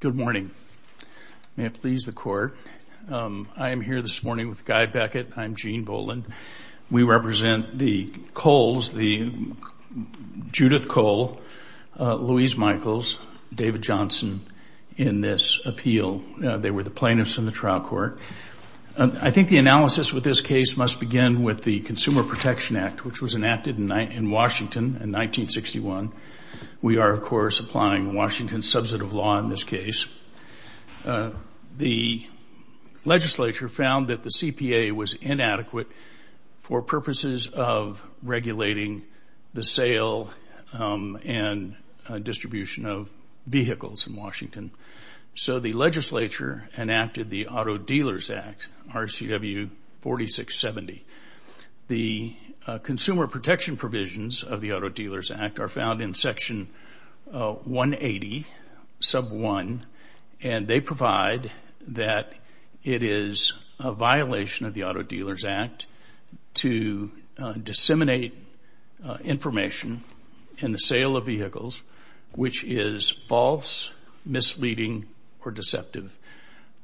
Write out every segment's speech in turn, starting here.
Good morning. May it please the Court. I am here this morning with Guy Beckett. I'm Gene Boland. We represent the Coles, the Judith Cole, Louise Michaels, David Johnson, in this appeal. They were the plaintiffs in the trial court. I think the analysis with this case must begin with the Consumer Protection Act, which was enacted in Washington in 1961. We are, of course, applying Washington's substantive law in this case. The legislature found that the CPA was inadequate for purposes of regulating the sale and distribution of vehicles in Washington. So the legislature enacted the Auto Dealers Act, RCW 4670. The Consumer Protection Provisions of the Auto Dealers Act are found in Section 180, Sub 1, and they provide that it is a violation of the Auto Dealers Act to disseminate information in the sale of vehicles which is false, misleading, or deceptive.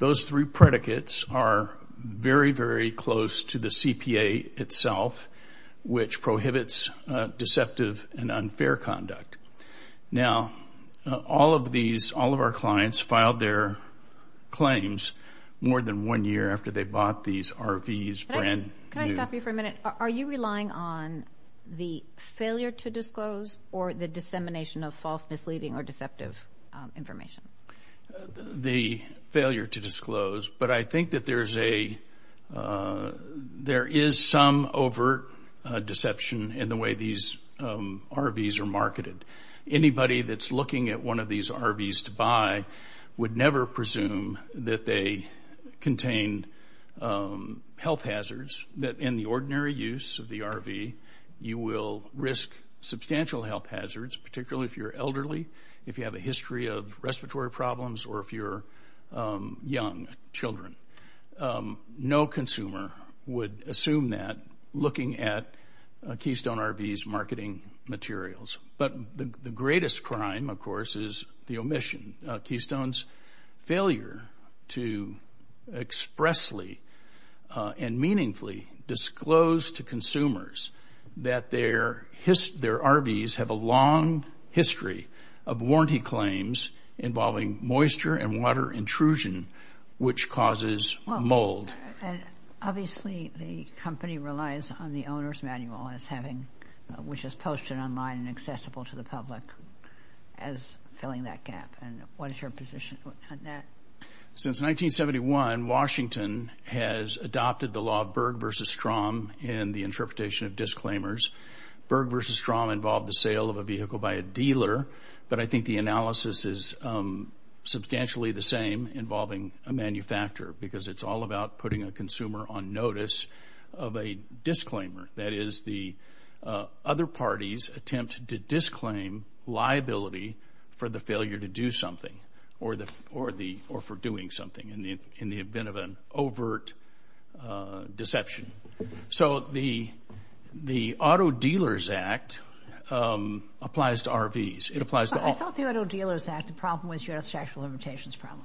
Those three predicates are very, very close to the CPA itself, which prohibits deceptive and unfair conduct. Now, all of our clients filed their claims more than one year after they bought these RVs brand new. Can I stop you for a minute? Are you relying on the failure to disclose or the dissemination of false, misleading, or deceptive information? The failure to disclose, but I think that there is some overt deception in the way these RVs are marketed. Anybody that's looking at one of these RVs to buy would never presume that they contain health hazards, that in the ordinary use of the RV, you will risk substantial health hazards, particularly if you're elderly, if you have a history of respiratory problems, or if you're young children. No consumer would assume that looking at a Keystone RV's marketing materials. But the greatest crime, of course, is the omission. Keystone's failure to expressly and meaningfully disclose to consumers that their RVs have a long history of warranty claims involving moisture and water intrusion, which causes mold. Obviously, the company relies on the owner's manual, which is posted online and accessible to the public, as filling that gap. What is your position on that? Since 1971, Washington has adopted the law of Berg v. Strom in the interpretation of disclaimers. Berg v. Strom involved the sale of a vehicle by a dealer, but I think the analysis is substantially the same involving a manufacturer, because it's all about putting a consumer on notice of a disclaimer. That is, the other parties attempt to disclaim liability for the failure to do something, or for doing something, in the event of an overt deception. So, the Auto Dealers Act applies to RVs. It applies to all. I thought the Auto Dealers Act, the problem was your statute of limitations problem.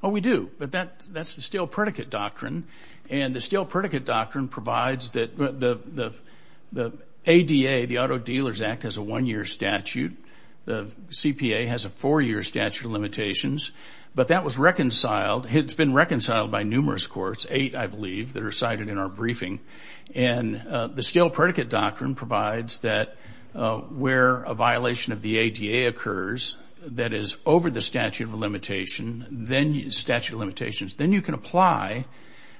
Oh, we do, but that's the Steel Predicate Doctrine, and the Steel Predicate Doctrine provides that the ADA, the Auto Dealers Act, has a one-year statute. The CPA has a four-year statute of limitations, but that was reconciled. It's been reconciled by numerous courts, eight, I believe, that are cited in our briefing, and the Steel Predicate Doctrine provides that where a violation of the ADA occurs that is over the statute of limitations, then you can apply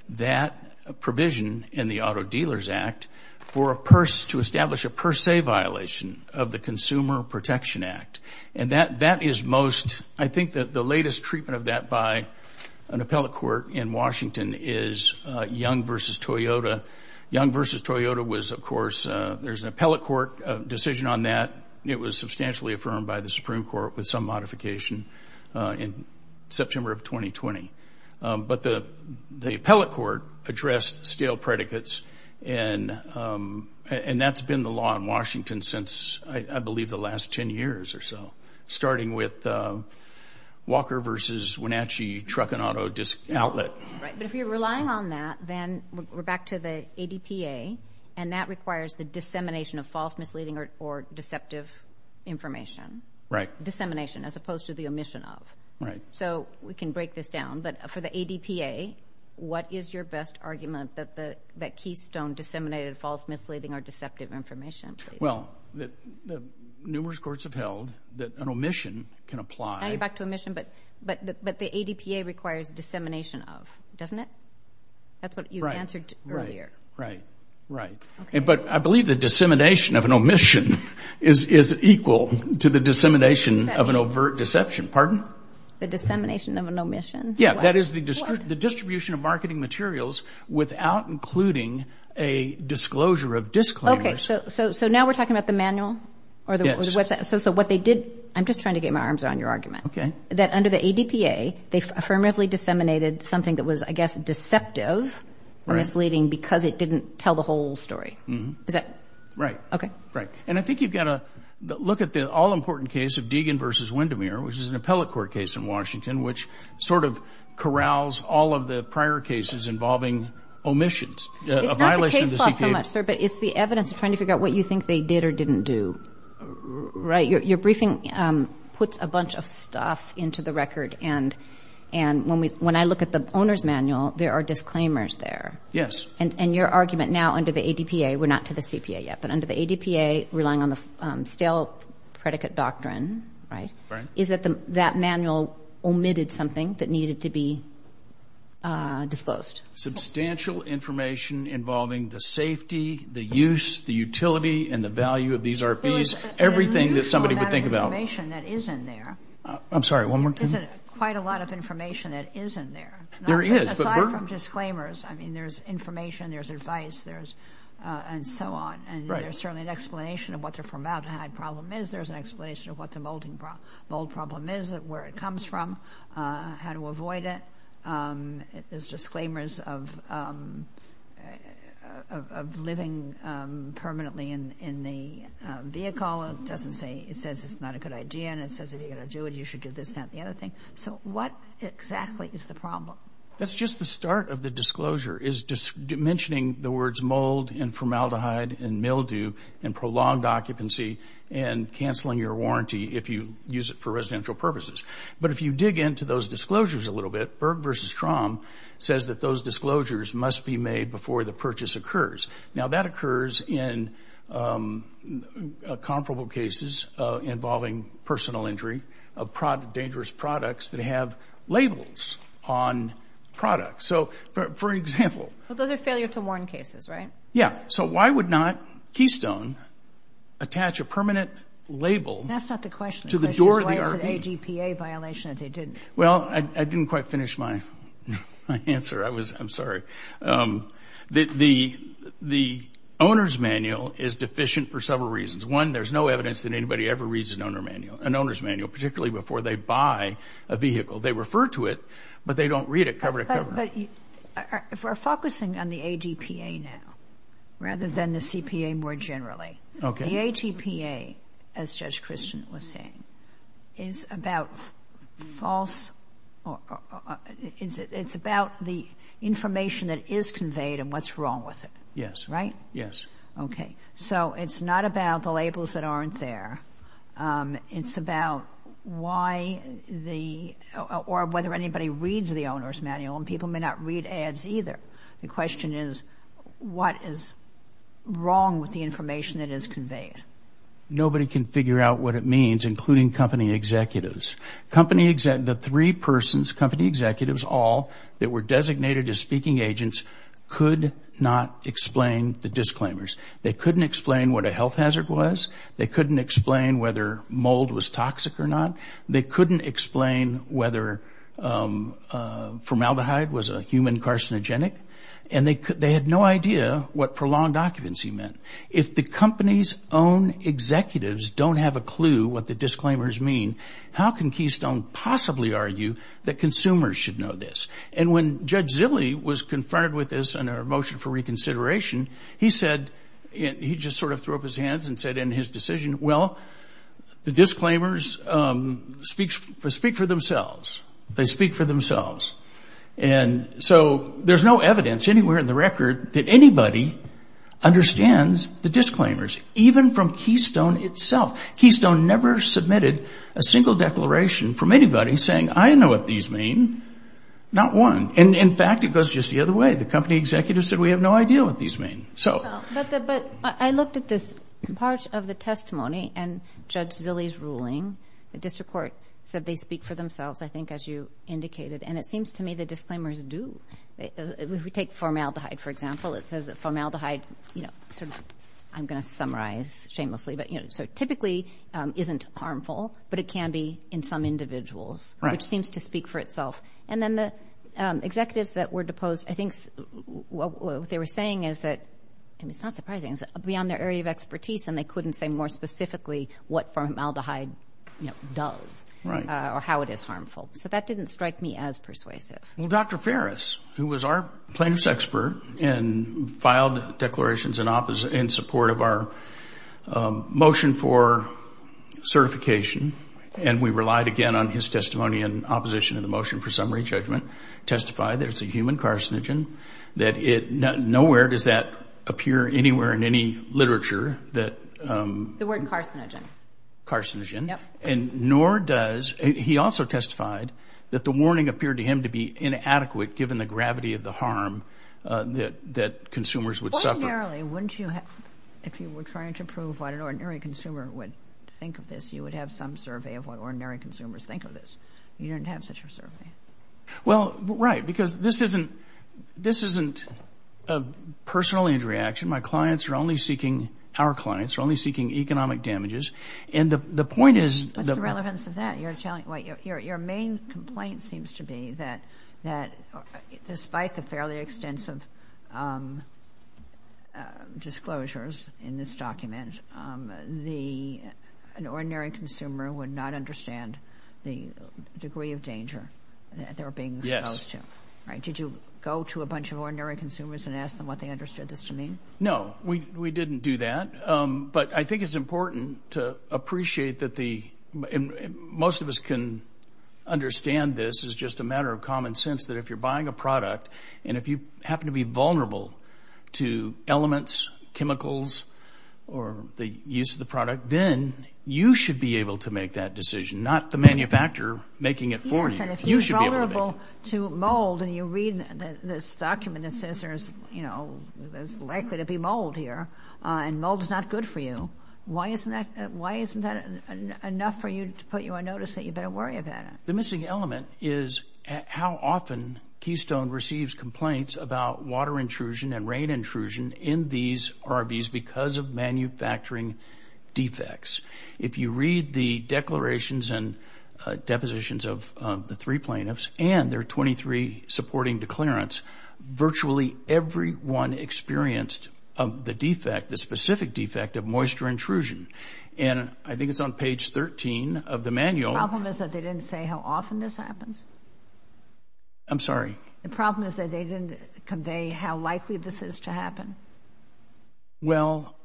that provision in the Auto Dealers Act to establish a per se violation of the Consumer Protection Act. And that is most, I think that the latest treatment of that by an appellate court in Washington is Young v. Toyota. Young v. Toyota was, of course, there's an appellate court decision on that. It was substantially affirmed by the Supreme Court with some modification in September of 2020. But the appellate court addressed steel predicates, and that's been the law in Washington since, I believe, the last 10 years or so, starting with Walker v. Wenatchee Truck and Auto Outlet. Right, but if you're relying on that, then we're back to the ADPA, and that requires the dissemination of false, misleading, or deceptive information. Right. Dissemination as opposed to the omission of. Right. So we can break this down, but for the ADPA, what is your best argument that that keystone disseminated false, misleading, or deceptive information? Well, numerous courts have held that an omission can apply. Now you're back to omission, but the ADPA requires dissemination of, doesn't it? That's what you answered earlier. Right, right, right. But I believe the dissemination of an omission is equal to the dissemination of an overt deception. Pardon? The dissemination of an omission? Yeah, that is the distribution of marketing materials without including a disclosure of disclaimers. Okay, so now we're talking about the manual or the website? Yes. So what they did, I'm just trying to get my arms around your argument. Okay. That under the ADPA, they affirmatively disseminated something that was, I guess, deceptive or misleading because it didn't tell the whole story. Is that? Right. Okay. Right. And I think you've got to look at the all-important case of Deegan v. Windermere, which is an appellate court case in Washington, which sort of corrals all of the prior cases involving omissions. It's not the case loss so much, sir, but it's the evidence of trying to figure out what you think they did or didn't do. Right. Your briefing puts a bunch of stuff into the record, and when I look at the owner's manual, there are disclaimers there. Yes. And your argument now under the ADPA, we're not to the CPA yet, but under the ADPA, relying on the stale predicate doctrine, right? Right. Is that that manual omitted something that needed to be disclosed? Substantial information involving the safety, the use, the utility, and the value of these RFPs. Everything that somebody would think about. There is a lot of information that is in there. I'm sorry. One more time. There's quite a lot of information that is in there. There is. Aside from disclaimers, I mean, there's information, there's advice, and so on. Right. And there's certainly an explanation of what the formaldehyde problem is. There's an explanation of what the mold problem is, where it comes from, how to avoid it. There's disclaimers of living permanently in the vehicle. It doesn't say, it says it's not a good idea, and it says if you're going to do it, you should do this, not the other thing. So what exactly is the problem? That's just the start of the disclosure, is mentioning the words mold and formaldehyde and mildew and prolonged occupancy and canceling your warranty if you use it for residential purposes. But if you dig into those disclosures a little bit, Berg v. Strom says that those disclosures must be made before the purchase occurs. Now, that occurs in comparable cases involving personal injury of dangerous products that have labels on products. So, for example. Well, those are failure to warn cases, right? Yeah. So why would not Keystone attach a permanent label to the door of the RV? Well, I didn't quite finish my answer. I'm sorry. The owner's manual is deficient for several reasons. One, there's no evidence that anybody ever reads an owner's manual, particularly before they buy a vehicle. They refer to it, but they don't read it cover to cover. But if we're focusing on the ADPA now rather than the CPA more generally. Okay. The ADPA, as Judge Christian was saying, is about false or it's about the information that is conveyed and what's wrong with it. Yes. Right? Yes. Okay. So it's not about the labels that aren't there. It's about why the or whether anybody reads the owner's manual. And people may not read ads either. The question is, what is wrong with the information that is conveyed? Nobody can figure out what it means, including company executives. The three persons, company executives all, that were designated as speaking agents could not explain the disclaimers. They couldn't explain what a health hazard was. They couldn't explain whether mold was toxic or not. They couldn't explain whether formaldehyde was a human carcinogenic. And they had no idea what prolonged occupancy meant. If the company's own executives don't have a clue what the disclaimers mean, how can Keystone possibly argue that consumers should know this? And when Judge Zille was confronted with this in our motion for reconsideration, he just sort of threw up his hands and said in his decision, well, the disclaimers speak for themselves. They speak for themselves. And so there's no evidence anywhere in the record that anybody understands the disclaimers, even from Keystone itself. Keystone never submitted a single declaration from anybody saying, I know what these mean. Not one. And, in fact, it goes just the other way. The company executives said, we have no idea what these mean. But I looked at this part of the testimony and Judge Zille's ruling. The district court said they speak for themselves, I think, as you indicated. And it seems to me the disclaimers do. If we take formaldehyde, for example, it says that formaldehyde sort of, I'm going to summarize shamelessly, but typically isn't harmful, but it can be in some individuals, which seems to speak for itself. And then the executives that were deposed, I think what they were saying is that, and it's not surprising, it's beyond their area of expertise, and they couldn't say more specifically what formaldehyde does or how it is harmful. So that didn't strike me as persuasive. Well, Dr. Ferris, who was our plaintiff's expert and filed declarations in support of our motion for certification, and we relied, again, on his testimony and opposition in the motion for summary judgment, testified that it's a human carcinogen, that nowhere does that appear anywhere in any literature. The word carcinogen. Carcinogen. Yep. And nor does, he also testified that the warning appeared to him to be inadequate given the gravity of the harm that consumers would suffer. Ordinarily, wouldn't you, if you were trying to prove what an ordinary consumer would think of this, you would have some survey of what ordinary consumers think of this. You didn't have such a survey. Well, right, because this isn't a personal injury action. My clients are only seeking, our clients are only seeking economic damages. And the point is the- What's the relevance of that? Your main complaint seems to be that despite the fairly extensive disclosures in this document, an ordinary consumer would not understand the degree of danger that they were being exposed to. Yes. Right. Did you go to a bunch of ordinary consumers and ask them what they understood this to mean? No, we didn't do that. But I think it's important to appreciate that the, and most of us can understand this as just a matter of common sense, that if you're buying a product and if you happen to be vulnerable to elements, chemicals, or the use of the product, then you should be able to make that decision, not the manufacturer making it for you. You should be able to make it. Yes, and if you're vulnerable to mold and you read this document that says there's, you know, there's likely to be mold here, and mold is not good for you, why isn't that enough for you to put you on notice that you better worry about it? The missing element is how often Keystone receives complaints about water intrusion and rain intrusion in these RVs because of manufacturing defects. If you read the declarations and depositions of the three plaintiffs and their 23 supporting declarants, virtually everyone experienced the defect, the specific defect of moisture intrusion. And I think it's on page 13 of the manual. The problem is that they didn't say how often this happens? I'm sorry? The problem is that they didn't convey how likely this is to happen? Well,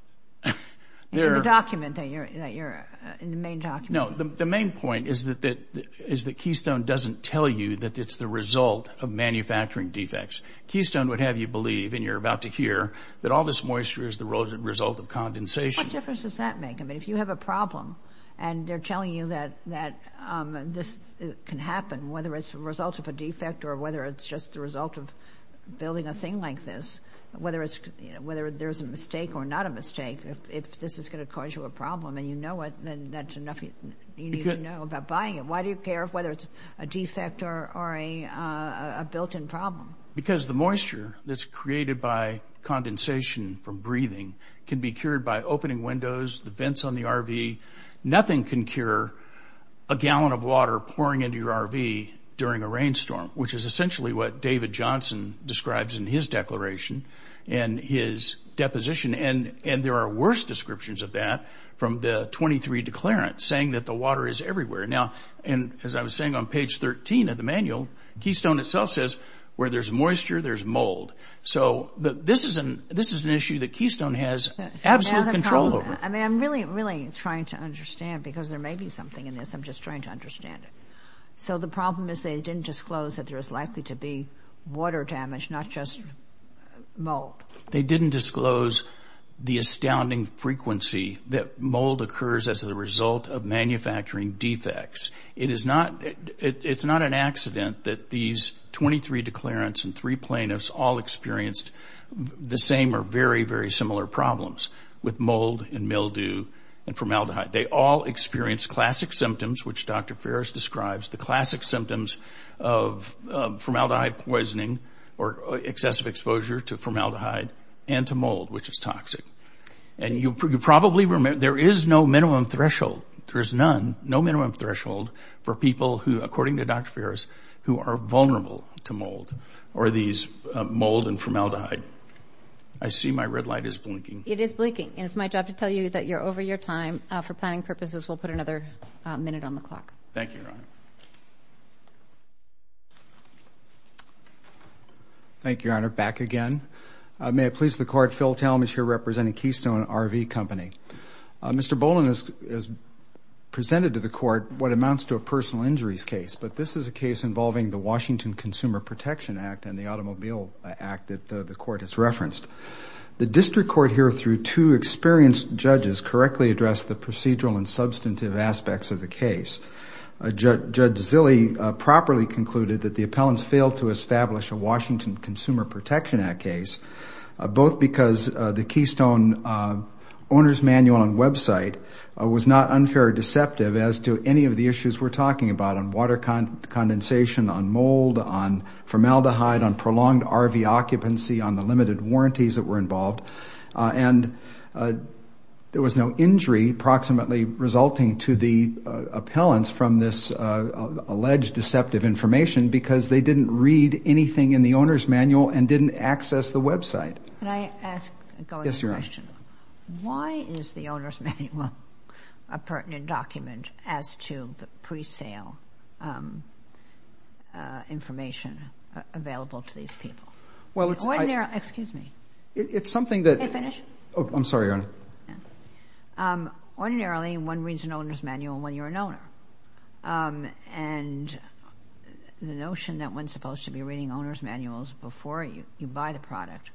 there... In the document that you're, in the main document. No, the main point is that Keystone doesn't tell you that it's the result of manufacturing defects. Keystone would have you believe, and you're about to hear, that all this moisture is the result of condensation. What difference does that make? I mean, if you have a problem and they're telling you that this can happen, whether it's the result of a defect or whether it's just the result of building a thing like this, whether there's a mistake or not a mistake, if this is going to cause you a problem and you know it, then that's enough. You need to know about buying it. Why do you care whether it's a defect or a built-in problem? Because the moisture that's created by condensation from breathing can be cured by opening windows, the vents on the RV. Nothing can cure a gallon of water pouring into your RV during a rainstorm, which is essentially what David Johnson describes in his declaration and his deposition. And there are worse descriptions of that from the 23 Declarant, saying that the water is everywhere. Now, as I was saying on page 13 of the manual, Keystone itself says where there's moisture, there's mold. So this is an issue that Keystone has absolute control over. I mean, I'm really, really trying to understand because there may be something in this. I'm just trying to understand it. So the problem is they didn't disclose that there's likely to be water damage, not just mold. They didn't disclose the astounding frequency that mold occurs as a result of manufacturing defects. It is not an accident that these 23 Declarants and three plaintiffs all experienced the same or very, very similar problems with mold and mildew and formaldehyde. They all experienced classic symptoms, which Dr. Ferris describes, the classic symptoms of formaldehyde poisoning or excessive exposure to formaldehyde and to mold, which is toxic. And you probably remember there is no minimum threshold. There is none, no minimum threshold for people who, according to Dr. Ferris, who are vulnerable to mold or these mold and formaldehyde. I see my red light is blinking. It is blinking, and it's my job to tell you that you're over your time. For planning purposes, we'll put another minute on the clock. Thank you, Your Honor. Thank you, Your Honor. Back again. May it please the Court, Phil Talmadge here representing Keystone RV Company. Mr. Boland has presented to the Court what amounts to a personal injuries case, but this is a case involving the Washington Consumer Protection Act and the Automobile Act that the Court has referenced. The district court here, through two experienced judges, correctly addressed the procedural and substantive aspects of the case. Judge Zille properly concluded that the appellants failed to establish a Washington Consumer Protection Act case, both because the Keystone owner's manual and website was not unfair or deceptive as to any of the issues we're talking about on water condensation, on mold, on formaldehyde, on prolonged RV occupancy, on the limited warranties that were involved. And there was no injury approximately resulting to the appellants from this alleged deceptive information because they didn't read anything in the owner's manual and didn't access the website. Can I ask a question? Yes, Your Honor. Why is the owner's manual a pertinent document as to the pre-sale information available to these people? Well, it's... Excuse me. It's something that... May I finish? I'm sorry, Your Honor. Ordinarily, one reads an owner's manual when you're an owner. And the notion that one's supposed to be reading owner's manuals before you buy the product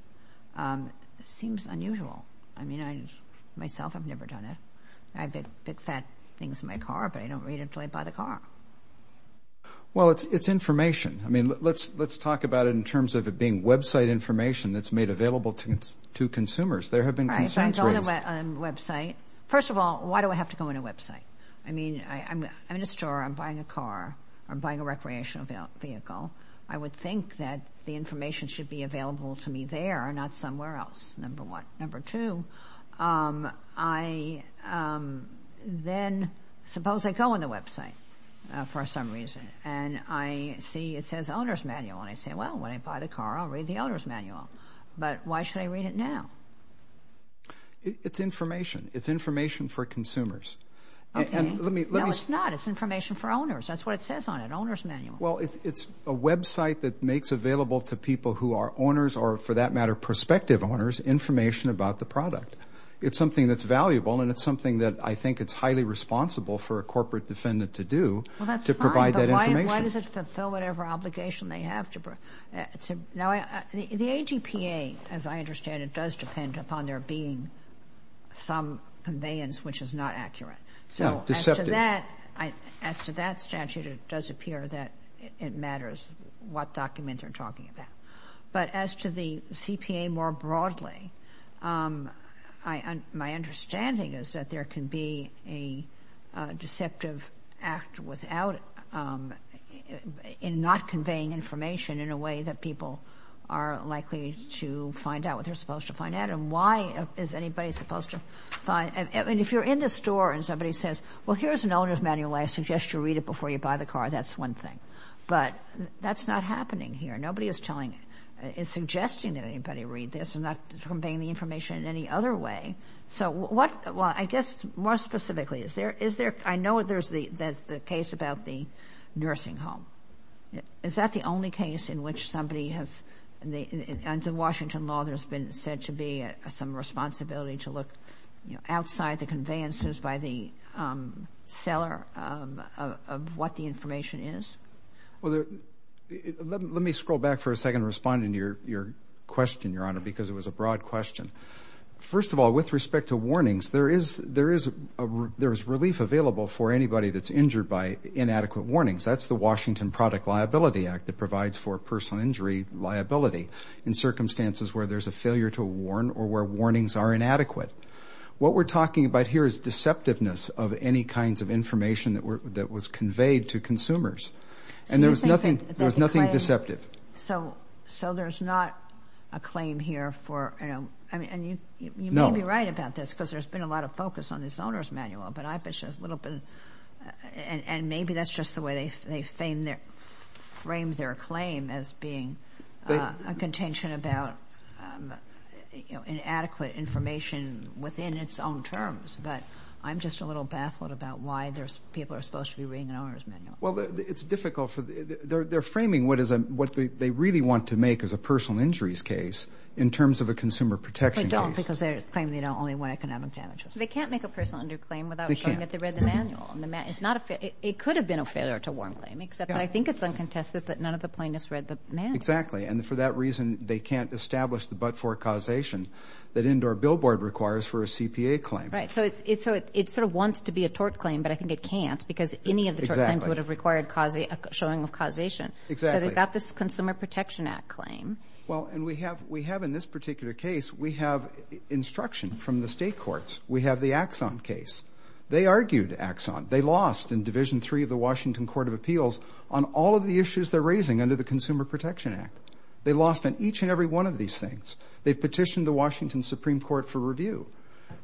seems unusual. I mean, myself, I've never done it. I pick fat things in my car, but I don't read it until I buy the car. Well, it's information. I mean, let's talk about it in terms of it being website information that's made available to consumers. There have been concerns raised. Right, so I go on a website. First of all, why do I have to go on a website? I mean, I'm in a store. I'm buying a car. I'm buying a recreational vehicle. I would think that the information should be available to me there, not somewhere else, number one. Number two, I then suppose I go on the website for some reason, and I see it says owner's manual. And I say, well, when I buy the car, I'll read the owner's manual. But why should I read it now? It's information. It's information for consumers. Okay. No, it's not. It's information for owners. That's what it says on it, owner's manual. Well, it's a website that makes available to people who are owners or, for that matter, prospective owners, information about the product. It's something that's valuable, and it's something that I think it's highly responsible for a corporate defendant to do to provide that information. Well, that's fine. But why does it fulfill whatever obligation they have to provide? The AGPA, as I understand it, does depend upon there being some conveyance which is not accurate. Yeah, deceptive. As to that statute, it does appear that it matters what document you're talking about. But as to the CPA more broadly, my understanding is that there can be a deceptive act in not conveying information in a way that people are likely to find out what they're supposed to find out. And why is anybody supposed to find — I mean, if you're in the store and somebody says, well, here's an owner's manual. I suggest you read it before you buy the car. That's one thing. But that's not happening here. Nobody is telling — is suggesting that anybody read this and not conveying the information in any other way. So what — well, I guess more specifically, is there — I know there's the case about the nursing home. Is that the only case in which somebody has — under Washington law there's been said to be some responsibility to look outside the conveyances by the seller of what the information is? Well, let me scroll back for a second and respond to your question, Your Honor, because it was a broad question. First of all, with respect to warnings, there is relief available for anybody that's injured by inadequate warnings. That's the Washington Product Liability Act that provides for personal injury liability in circumstances where there's a failure to warn or where warnings are inadequate. What we're talking about here is deceptiveness of any kinds of information that was conveyed to consumers. And there was nothing deceptive. So there's not a claim here for — I mean, and you may be right about this because there's been a lot of focus on this owner's manual, but I've been just a little bit — and maybe that's just the way they frame their claim as being a contention about inadequate information within its own terms. But I'm just a little baffled about why people are supposed to be reading an owner's manual. Well, it's difficult for — they're framing what is a — what they really want to make as a personal injuries case in terms of a consumer protection case. But don't because they claim they don't only want economic damages. They can't make a personal injury claim without showing that they read the manual. It could have been a failure to warn claim, except that I think it's uncontested that none of the plaintiffs read the manual. Exactly. And for that reason, they can't establish the but-for causation that Indoor Billboard requires for a CPA claim. Right. So it sort of wants to be a tort claim, but I think it can't because any of the tort claims would have required a showing of causation. Exactly. So they've got this Consumer Protection Act claim. Well, and we have in this particular case, we have instruction from the state courts. We have the Axon case. They argued Axon. They lost in Division III of the Washington Court of Appeals on all of the issues they're raising under the Consumer Protection Act. They lost on each and every one of these things. They've petitioned the Washington Supreme Court for review.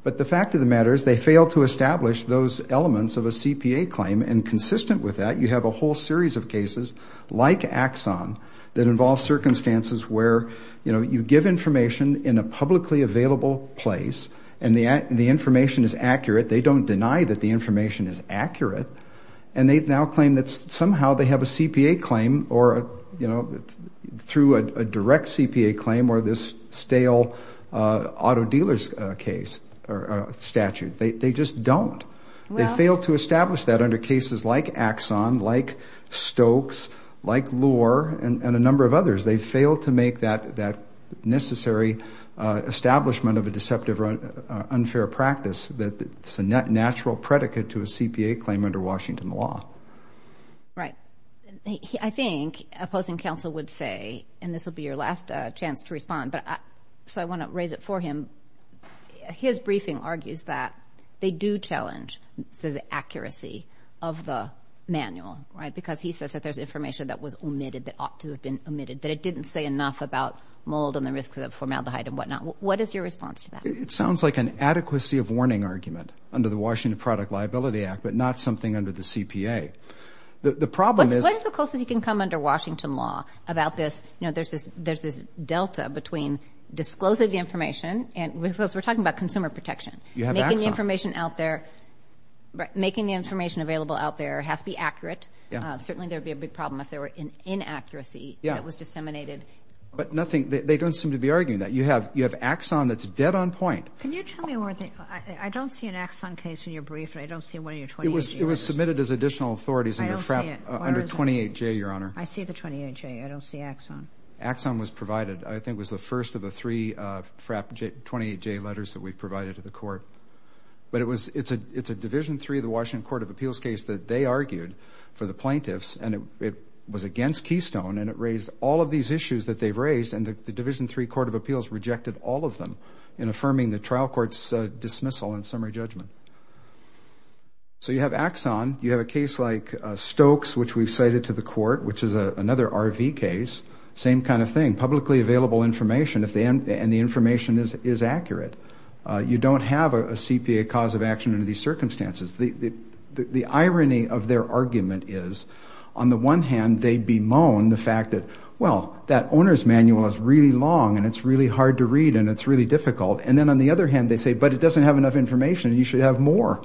But the fact of the matter is they failed to establish those elements of a CPA claim, and consistent with that, you have a whole series of cases like Axon that involve circumstances where, you know, you give information in a publicly available place and the information is accurate. They don't deny that the information is accurate, and they now claim that somehow they have a CPA claim or, you know, through a direct CPA claim or this stale auto dealer's case or statute. They just don't. They failed to establish that under cases like Axon, like Stokes, like Lohr, and a number of others. They failed to make that necessary establishment of a deceptive or unfair practice that's a natural predicate to a CPA claim under Washington law. Right. I think opposing counsel would say, and this will be your last chance to respond, so I want to raise it for him. His briefing argues that they do challenge the accuracy of the manual, right, because he says that there's information that was omitted that ought to have been omitted, that it didn't say enough about mold and the risks of formaldehyde and whatnot. What is your response to that? It sounds like an adequacy of warning argument under the Washington Product Liability Act, but not something under the CPA. What is the closest you can come under Washington law about this? You know, there's this delta between disclosing the information because we're talking about consumer protection. Making the information available out there has to be accurate. Certainly there would be a big problem if there were inaccuracy that was disseminated. But nothing, they don't seem to be arguing that. You have Axon that's dead on point. Can you tell me one thing? I don't see an Axon case in your brief, and I don't see one of your 28-J letters. It was submitted as additional authorities under 28-J, Your Honor. I see the 28-J. I don't see Axon. Axon was provided. I think it was the first of the three 28-J letters that we provided to the court. But it's a Division III of the Washington Court of Appeals case that they argued for the plaintiffs, and it was against Keystone, and it raised all of these issues that they've raised, and the Division III Court of Appeals rejected all of them in affirming the trial court's dismissal and summary judgment. So you have Axon. You have a case like Stokes, which we've cited to the court, which is another RV case. Same kind of thing. Publicly available information, and the information is accurate. You don't have a CPA cause of action under these circumstances. The irony of their argument is, on the one hand, they bemoan the fact that, well, that owner's manual is really long, and it's really hard to read, and it's really difficult, and then on the other hand, they say, but it doesn't have enough information. You should have more.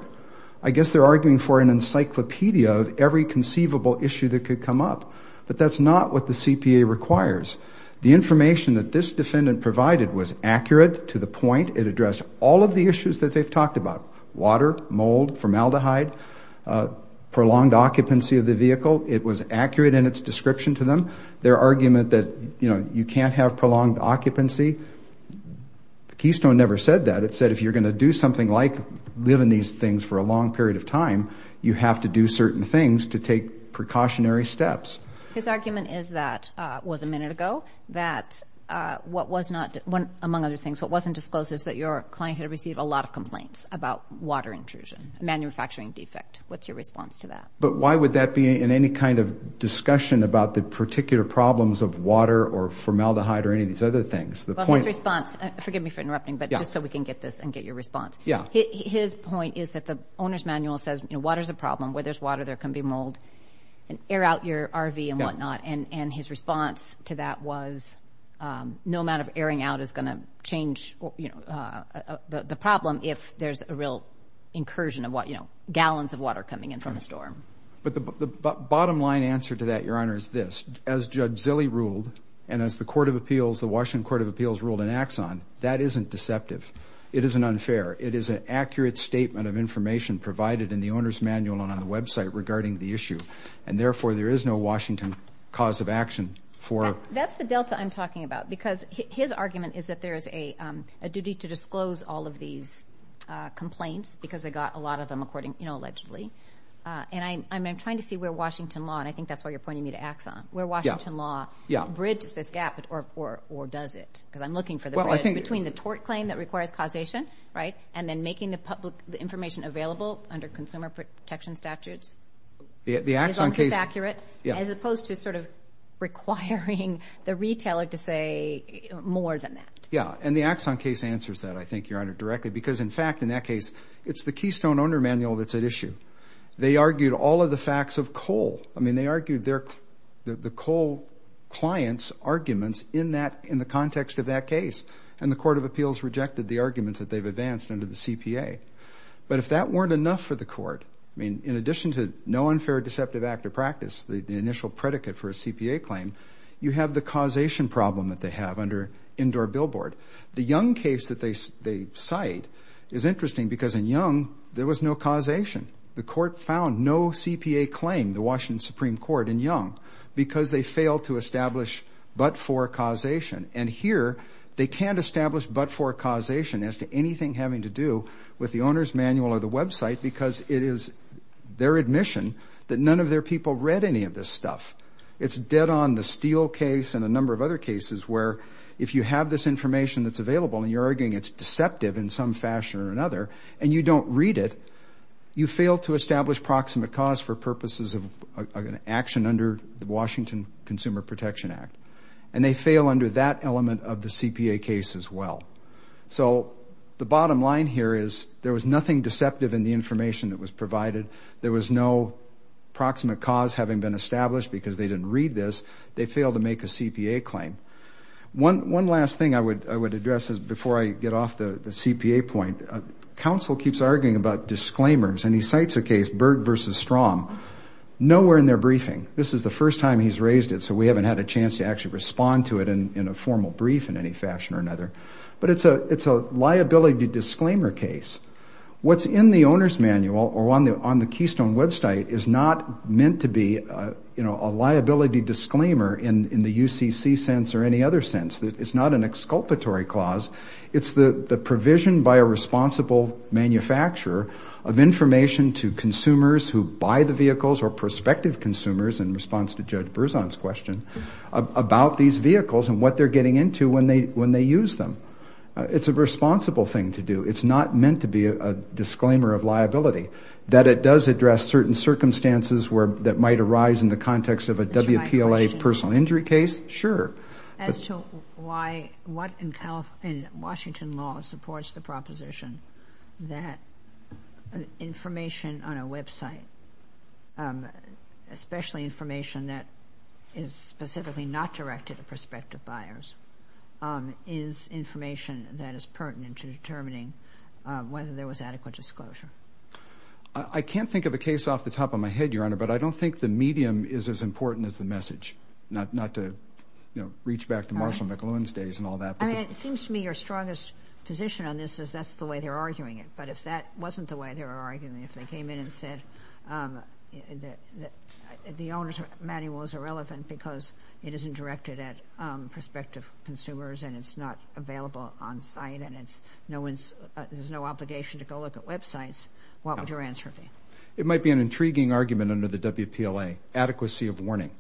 I guess they're arguing for an encyclopedia of every conceivable issue that could come up, but that's not what the CPA requires. The information that this defendant provided was accurate to the point it addressed all of the issues that they've talked about, water, mold, formaldehyde, prolonged occupancy of the vehicle. It was accurate in its description to them. Their argument that you can't have prolonged occupancy, Keystone never said that. It said if you're going to do something like live in these things for a long period of time, you have to do certain things to take precautionary steps. His argument is that, it was a minute ago, that what was not, among other things, what wasn't disclosed is that your client had received a lot of complaints about water intrusion, a manufacturing defect. What's your response to that? But why would that be in any kind of discussion about the particular problems of water or formaldehyde or any of these other things? Well, his response, forgive me for interrupting, but just so we can get this and get your response. His point is that the owner's manual says water's a problem. Where there's water, there can be mold. Air out your RV and whatnot, and his response to that was no amount of airing out is going to change the problem if there's a real incursion of gallons of water coming in from a storm. But the bottom line answer to that, Your Honor, is this. As Judge Zille ruled and as the Washington Court of Appeals ruled in Axon, that isn't deceptive. It isn't unfair. It is an accurate statement of information provided in the owner's manual and on the website regarding the issue, and therefore there is no Washington cause of action for... That's the delta I'm talking about because his argument is that there is a duty to disclose all of these complaints because they got a lot of them allegedly. And I'm trying to see where Washington law, and I think that's why you're pointing me to Axon, where Washington law bridges this gap, or does it? Because I'm looking for the bridge between the tort claim that requires causation and then making the information available under consumer protection statutes. The Axon case... Because it's accurate as opposed to sort of requiring the retailer to say more than that. Yeah, and the Axon case answers that, I think, Your Honor, directly because, in fact, in that case, it's the Keystone Owner Manual that's at issue. They argued all of the facts of coal. I mean, they argued the coal client's arguments in the context of that case, and the Court of Appeals rejected the arguments that they've advanced under the CPA. But if that weren't enough for the court, I mean, in addition to no unfair deceptive act of practice, the initial predicate for a CPA claim, you have the causation problem that they have under indoor billboard. The Young case that they cite is interesting because in Young there was no causation. The court found no CPA claim, the Washington Supreme Court in Young, because they failed to establish but-for causation. And here they can't establish but-for causation as to anything having to do with the owner's manual or the website because it is their admission that none of their people read any of this stuff. It's dead on the Steele case and a number of other cases where if you have this information that's available and you're arguing it's deceptive in some fashion or another and you don't read it, you fail to establish proximate cause for purposes of an action under the Washington Consumer Protection Act. And they fail under that element of the CPA case as well. So the bottom line here is there was nothing deceptive in the information that was provided. There was no proximate cause having been established because they didn't read this. They failed to make a CPA claim. One last thing I would address before I get off the CPA point. Counsel keeps arguing about disclaimers, and he cites a case, Berg v. Strom. Nowhere in their briefing, this is the first time he's raised it, so we haven't had a chance to actually respond to it in a formal brief in any fashion or another. But it's a liability disclaimer case. What's in the owner's manual or on the Keystone website is not meant to be a liability disclaimer in the UCC sense or any other sense. It's not an exculpatory clause. It's the provision by a responsible manufacturer of information to consumers who buy the vehicles or prospective consumers in response to Judge Berzon's question about these vehicles and what they're getting into when they use them. It's a responsible thing to do. It's not meant to be a disclaimer of liability. That it does address certain circumstances that might arise in the context of a WPLA personal injury case, sure. As to why what in Washington law supports the proposition that information on a website, especially information that is specifically not directed at prospective buyers, is information that is pertinent to determining whether there was adequate disclosure? I can't think of a case off the top of my head, Your Honor, but I don't think the medium is as important as the message. Not to reach back to Marshall McLuhan's days and all that. It seems to me your strongest position on this is that's the way they're arguing it. But if that wasn't the way they were arguing it, if they came in and said the owner's manual is irrelevant because it isn't directed at prospective consumers and it's not available on site and there's no obligation to go look at websites, what would your answer be? It might be an intriguing argument under the WPLA. Adequacy of warning.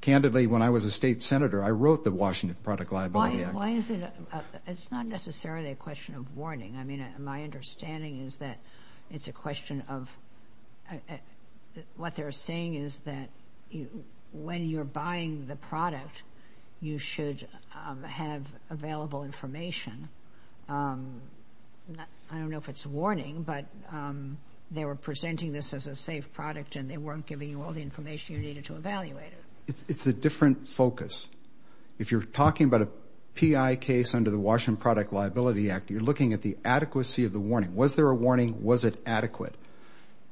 Candidly, when I was a state senator, I wrote the Washington Product Liability Act. Why is it – it's not necessarily a question of warning. I mean, my understanding is that it's a question of – what they're saying is that when you're buying the product, you should have available information. I don't know if it's a warning, but they were presenting this as a safe product and they weren't giving you all the information you needed to evaluate it. It's a different focus. If you're talking about a PI case under the Washington Product Liability Act, you're looking at the adequacy of the warning. Was there a warning? Was it adequate?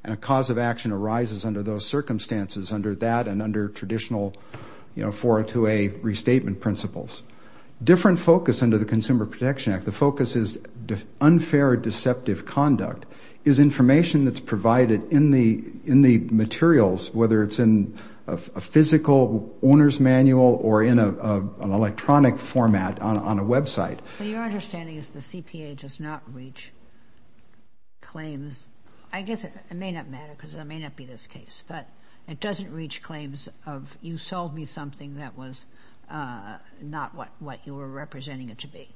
And a cause of action arises under those circumstances, under that and under traditional 402A restatement principles. Different focus under the Consumer Protection Act. The focus is unfair deceptive conduct, is information that's provided in the materials, whether it's in a physical owner's manual or in an electronic format on a website. Your understanding is the CPA does not reach claims – I guess it may not matter because it may not be this case, but it doesn't reach claims of you sold me something that was not what you were representing it to be.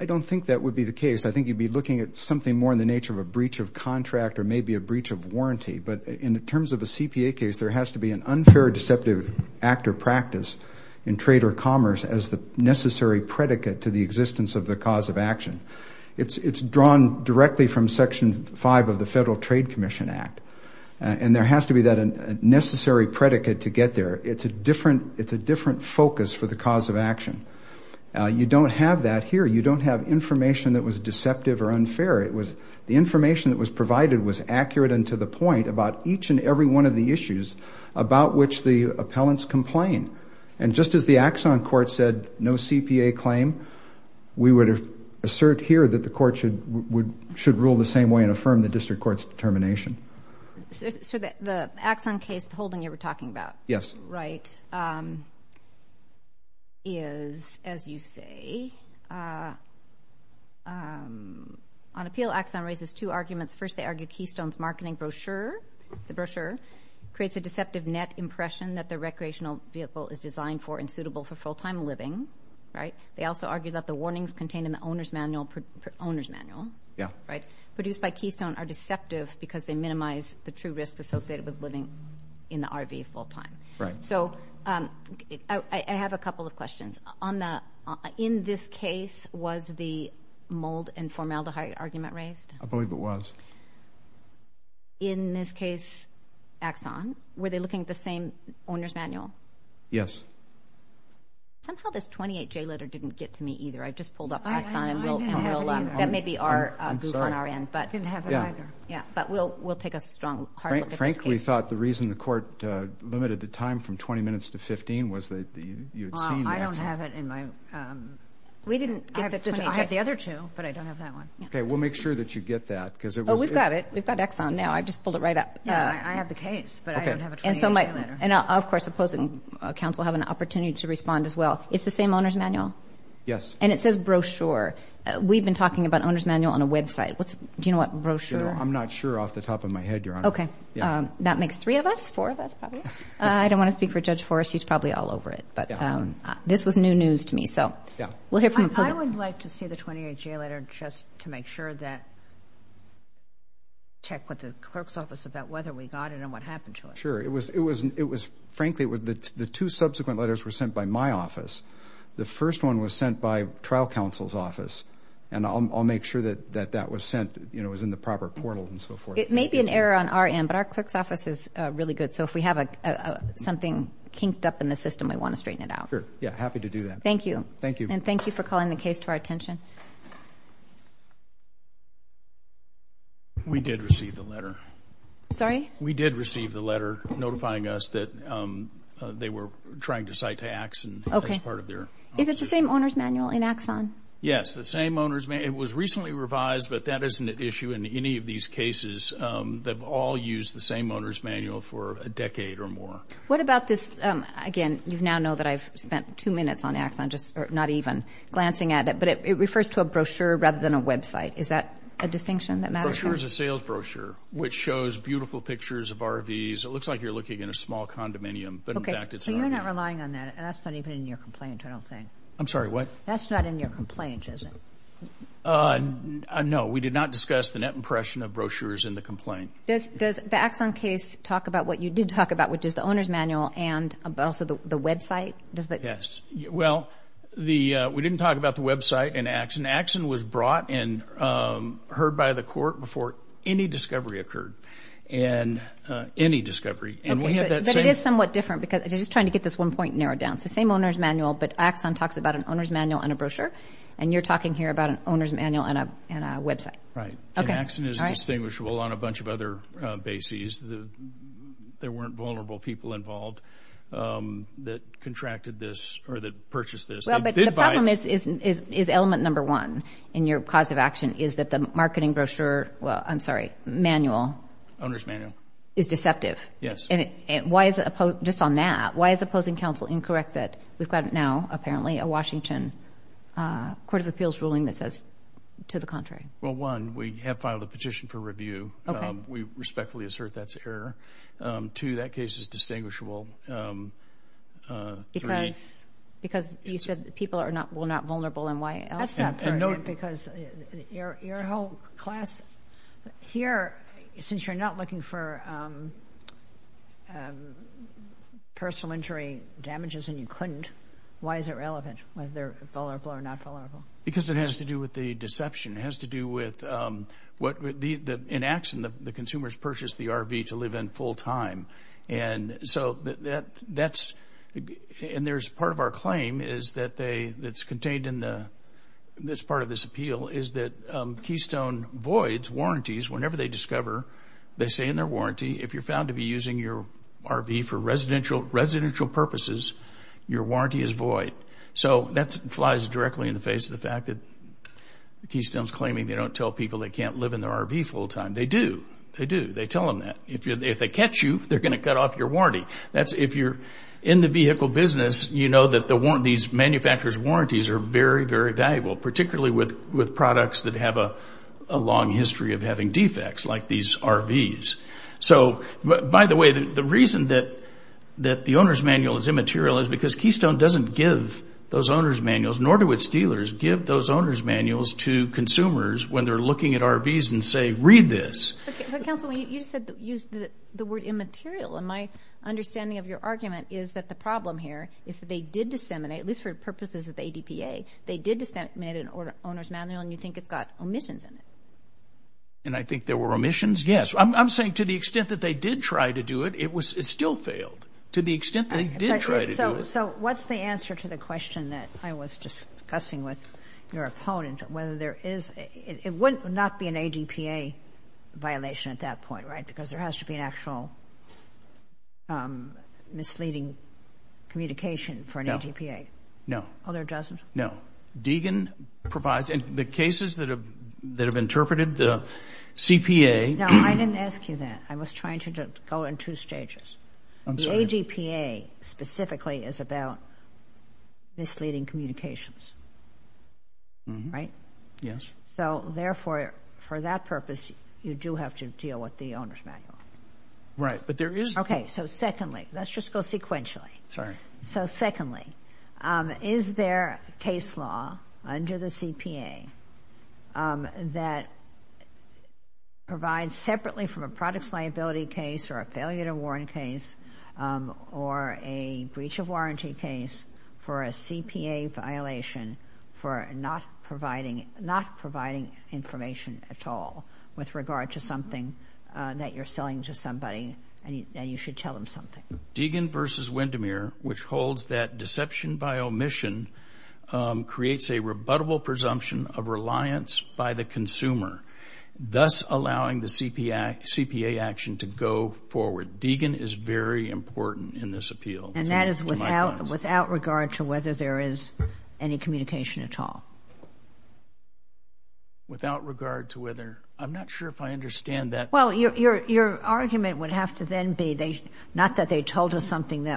I don't think that would be the case. I think you'd be looking at something more in the nature of a breach of contract or maybe a breach of warranty, but in terms of a CPA case, there has to be an unfair deceptive act or practice in trade or commerce as the necessary predicate to the existence of the cause of action. It's drawn directly from Section 5 of the Federal Trade Commission Act. And there has to be that necessary predicate to get there. It's a different focus for the cause of action. You don't have that here. You don't have information that was deceptive or unfair. The information that was provided was accurate and to the point about each and every one of the issues about which the appellants complained. And just as the Axon Court said no CPA claim, we would assert here that the court should rule the same way and affirm the district court's determination. So the Axon case, the holding you were talking about, is, as you say, on appeal, Axon raises two arguments. First, they argue Keystone's marketing brochure, the brochure, creates a deceptive net impression that the recreational vehicle is designed for and suitable for full-time living. They also argue that the warnings contained in the owner's manual produced by Keystone are deceptive because they minimize the true risk associated with living in the RV full-time. So I have a couple of questions. In this case, was the mold and formaldehyde argument raised? I believe it was. In this case, Axon, were they looking at the same owner's manual? Yes. Somehow this 28-J letter didn't get to me either. I just pulled up Axon. I didn't have it either. That may be our goof on our end. I'm sorry. I didn't have it either. Yeah, but we'll take a strong hard look at this case. Frank, we thought the reason the court limited the time from 20 minutes to 15 was that you had seen the Axon. Well, I don't have it in my... We didn't get the 28-J... I have the other two, but I don't have that one. Okay, we'll make sure that you get that because it was... Oh, we've got it. I just pulled it right up. Yeah, I have the case, but I don't have a 28-J letter. And, of course, opposing counsel have an opportunity to respond as well. It's the same owner's manual? Yes. And it says brochure. We've been talking about owner's manual on a website. Do you know what brochure... I'm not sure off the top of my head, Your Honor. Okay. That makes three of us, four of us probably. I don't want to speak for Judge Forrest. He's probably all over it. But this was new news to me. So we'll hear from... I would like to see the 28-J letter just to make sure that... check with the clerk's office about whether we got it and what happened to it. Sure. It was, frankly, the two subsequent letters were sent by my office. The first one was sent by trial counsel's office, and I'll make sure that that was sent, you know, it was in the proper portal and so forth. It may be an error on our end, but our clerk's office is really good. So if we have something kinked up in the system, we want to straighten it out. Sure. Yeah, happy to do that. Thank you. Thank you. And thank you for calling the case to our attention. We did receive the letter. Sorry? We did receive the letter notifying us that they were trying to cite to Axon as part of their... Okay. Is it the same owner's manual in Axon? Yes, the same owner's... It was recently revised, but that isn't an issue in any of these cases. They've all used the same owner's manual for a decade or more. What about this, again, you now know that I've spent two minutes on Axon, just not even glancing at it, but it refers to a brochure rather than a website. Is that a distinction that matters? The brochure is a sales brochure which shows beautiful pictures of RVs. It looks like you're looking in a small condominium, but in fact it's an RV. Okay, so you're not relying on that. That's not even in your complaint, I don't think. I'm sorry, what? That's not in your complaint, is it? No, we did not discuss the net impression of brochures in the complaint. Does the Axon case talk about what you did talk about, which is the owner's manual, but also the website? Yes. Well, we didn't talk about the website in Axon. Axon was brought and heard by the court before any discovery occurred, any discovery. But it is somewhat different, because I'm just trying to get this one point narrowed down. It's the same owner's manual, but Axon talks about an owner's manual and a brochure, and you're talking here about an owner's manual and a website. Right. And Axon is distinguishable on a bunch of other bases. There weren't vulnerable people involved that contracted this or that purchased this. The problem is element number one in your cause of action is that the marketing brochure, well, I'm sorry, manual. Owner's manual. Is deceptive. Yes. Just on that, why is opposing counsel incorrect that we've got now, apparently, a Washington Court of Appeals ruling that says to the contrary? Well, one, we have filed a petition for review. Okay. We respectfully assert that's error. Two, that case is distinguishable. Three. Because you said people are not vulnerable and why else? That's not part of it, because your whole class here, since you're not looking for personal injury damages and you couldn't, why is it relevant whether they're vulnerable or not vulnerable? Because it has to do with the deception. It has to do with, in Axon, the consumers purchased the RV to live in full time. So that's, and there's part of our claim is that they, that's contained in this part of this appeal is that Keystone voids warranties. Whenever they discover, they say in their warranty, if you're found to be using your RV for residential purposes, your warranty is void. So that flies directly in the face of the fact that Keystone's claiming they don't tell people they can't live in their RV full time. They do. They do. They tell them that. If they catch you, they're going to cut off your warranty. That's if you're in the vehicle business, you know that these manufacturer's warranties are very, very valuable, particularly with products that have a long history of having defects like these RVs. So, by the way, the reason that the owner's manual is immaterial is because Keystone doesn't give those owner's manuals, nor do its dealers give those owner's manuals to consumers when they're looking at RVs and say, read this. But, counsel, you said you used the word immaterial, and my understanding of your argument is that the problem here is that they did disseminate, at least for purposes of the ADPA, they did disseminate an owner's manual, and you think it's got omissions in it. And I think there were omissions, yes. I'm saying to the extent that they did try to do it, it still failed. To the extent they did try to do it. So what's the answer to the question that I was discussing with your opponent, it would not be an ADPA violation at that point, right, because there has to be an actual misleading communication for an ADPA. No. Oh, there doesn't? No. Deegan provides, and the cases that have interpreted the CPA. No, I didn't ask you that. I was trying to go in two stages. The ADPA specifically is about misleading communications, right? Yes. So therefore, for that purpose, you do have to deal with the owner's manual. Right, but there is. Okay, so secondly, let's just go sequentially. Sorry. So secondly, is there a case law under the CPA that provides separately from a products liability case or a failure to warrant case or a breach of warranty case for a CPA violation for not providing information at all with regard to something that you're selling to somebody and you should tell them something? Deegan versus Windermere, which holds that deception by omission creates a rebuttable presumption of reliance by the consumer, thus allowing the CPA action to go forward. Deegan is very important in this appeal. And that is without regard to whether there is any communication at all? Without regard to whether... I'm not sure if I understand that. Well, your argument would have to then be, not that they told her something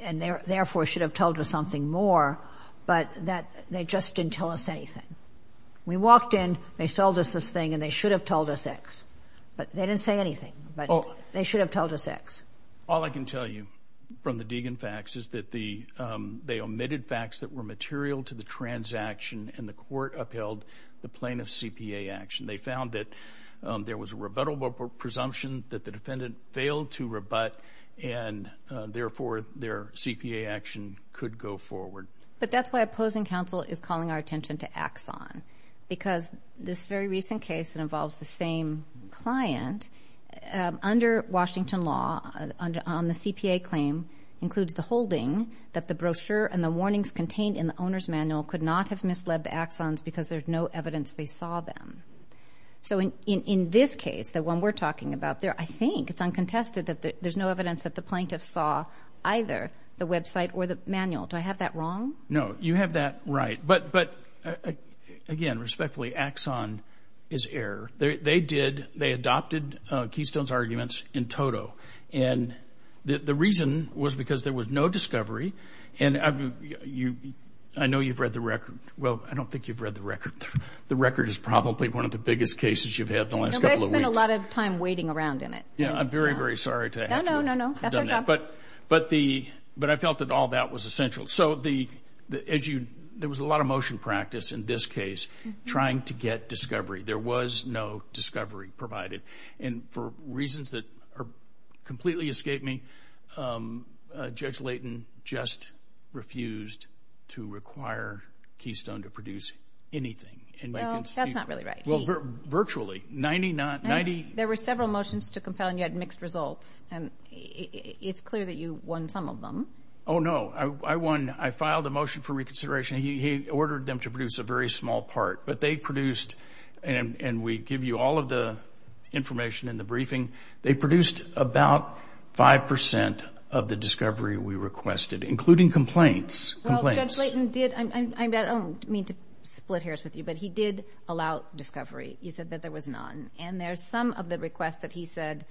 and therefore should have told her something more, but that they just didn't tell us anything. We walked in, they sold us this thing, and they should have told us X. They didn't say anything, but they should have told us X. All I can tell you from the Deegan facts is that they omitted facts that were material to the transaction, and the court upheld the plaintiff's CPA action. They found that there was a rebuttable presumption that the defendant failed to rebut, and therefore their CPA action could go forward. But that's why opposing counsel is calling our attention to Axon, because this very recent case that involves the same client, under Washington law on the CPA claim includes the holding that the brochure and the warnings contained in the owner's manual could not have misled the Axons because there's no evidence they saw them. So in this case, the one we're talking about there, I think it's uncontested that there's no evidence that the plaintiff saw either the website or the manual. Do I have that wrong? No, you have that right. But again, respectfully, Axon is error. They adopted Keystone's arguments in toto, and the reason was because there was no discovery, and I know you've read the record. Well, I don't think you've read the record. The record is probably one of the biggest cases you've had the last couple of weeks. But I spent a lot of time waiting around in it. Yeah, I'm very, very sorry to have you done that. No, no, no, no, that's our job. But I felt that all that was essential. So there was a lot of motion practice in this case trying to get discovery. There was no discovery provided, and for reasons that completely escape me, Judge Layton just refused to require Keystone to produce anything. Well, that's not really right. Virtually. There were several motions to compel, and you had mixed results. It's clear that you won some of them. Oh, no, I won. I filed a motion for reconsideration. He ordered them to produce a very small part. But they produced, and we give you all of the information in the briefing, they produced about 5% of the discovery we requested, including complaints. Well, Judge Layton did. I don't mean to split hairs with you, but he did allow discovery. You said that there was none. And there's some of the requests that he said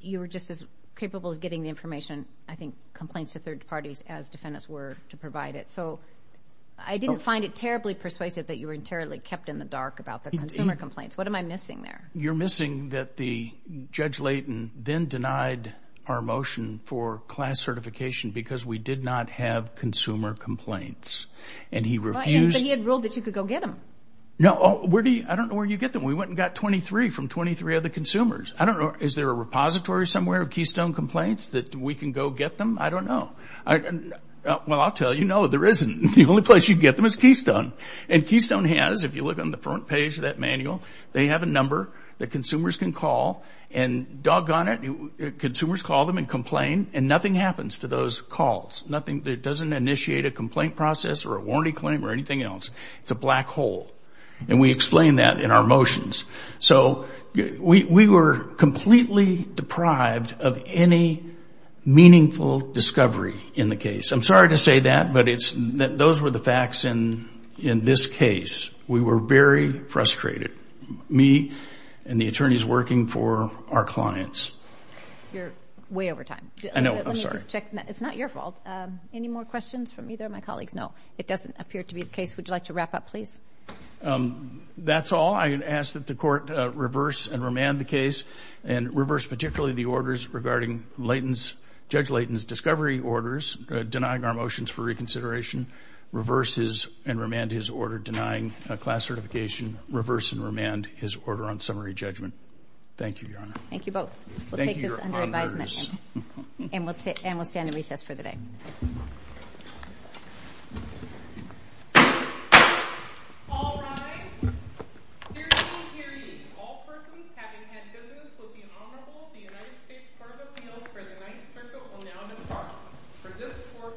you were just as capable of getting the information, I think complaints to third parties, as defendants were to provide it. So I didn't find it terribly persuasive that you were entirely kept in the dark about the consumer complaints. What am I missing there? You're missing that Judge Layton then denied our motion for class certification because we did not have consumer complaints, and he refused. But he had ruled that you could go get them. No. I don't know where you get them. We went and got 23 from 23 other consumers. I don't know. Is there a repository somewhere of Keystone complaints that we can go get them? I don't know. Well, I'll tell you, no, there isn't. The only place you can get them is Keystone. And Keystone has, if you look on the front page of that manual, they have a number that consumers can call. And doggone it, consumers call them and complain, and nothing happens to those calls. It doesn't initiate a complaint process or a warranty claim or anything else. It's a black hole. And we explain that in our motions. So we were completely deprived of any meaningful discovery in the case. I'm sorry to say that, but those were the facts in this case. We were very frustrated, me and the attorneys working for our clients. You're way over time. I know. I'm sorry. Let me just check. It's not your fault. Any more questions from either of my colleagues? No. It doesn't appear to be the case. Would you like to wrap up, please? That's all. I ask that the Court reverse and remand the case and reverse particularly the orders regarding Judge Layton's discovery orders, denying our motions for reconsideration, reverse and remand his order denying a class certification, reverse and remand his order on summary judgment. Thank you, Your Honor. Thank you both. We'll take this under advisement. Thank you, Your Honor. And we'll stand in recess for the day. All rise. Dearly, dearly, all persons having had business with the Honorable the United States Court of Appeals for the Ninth Circuit will now depart. For this Court, for this session, now stands adjourned.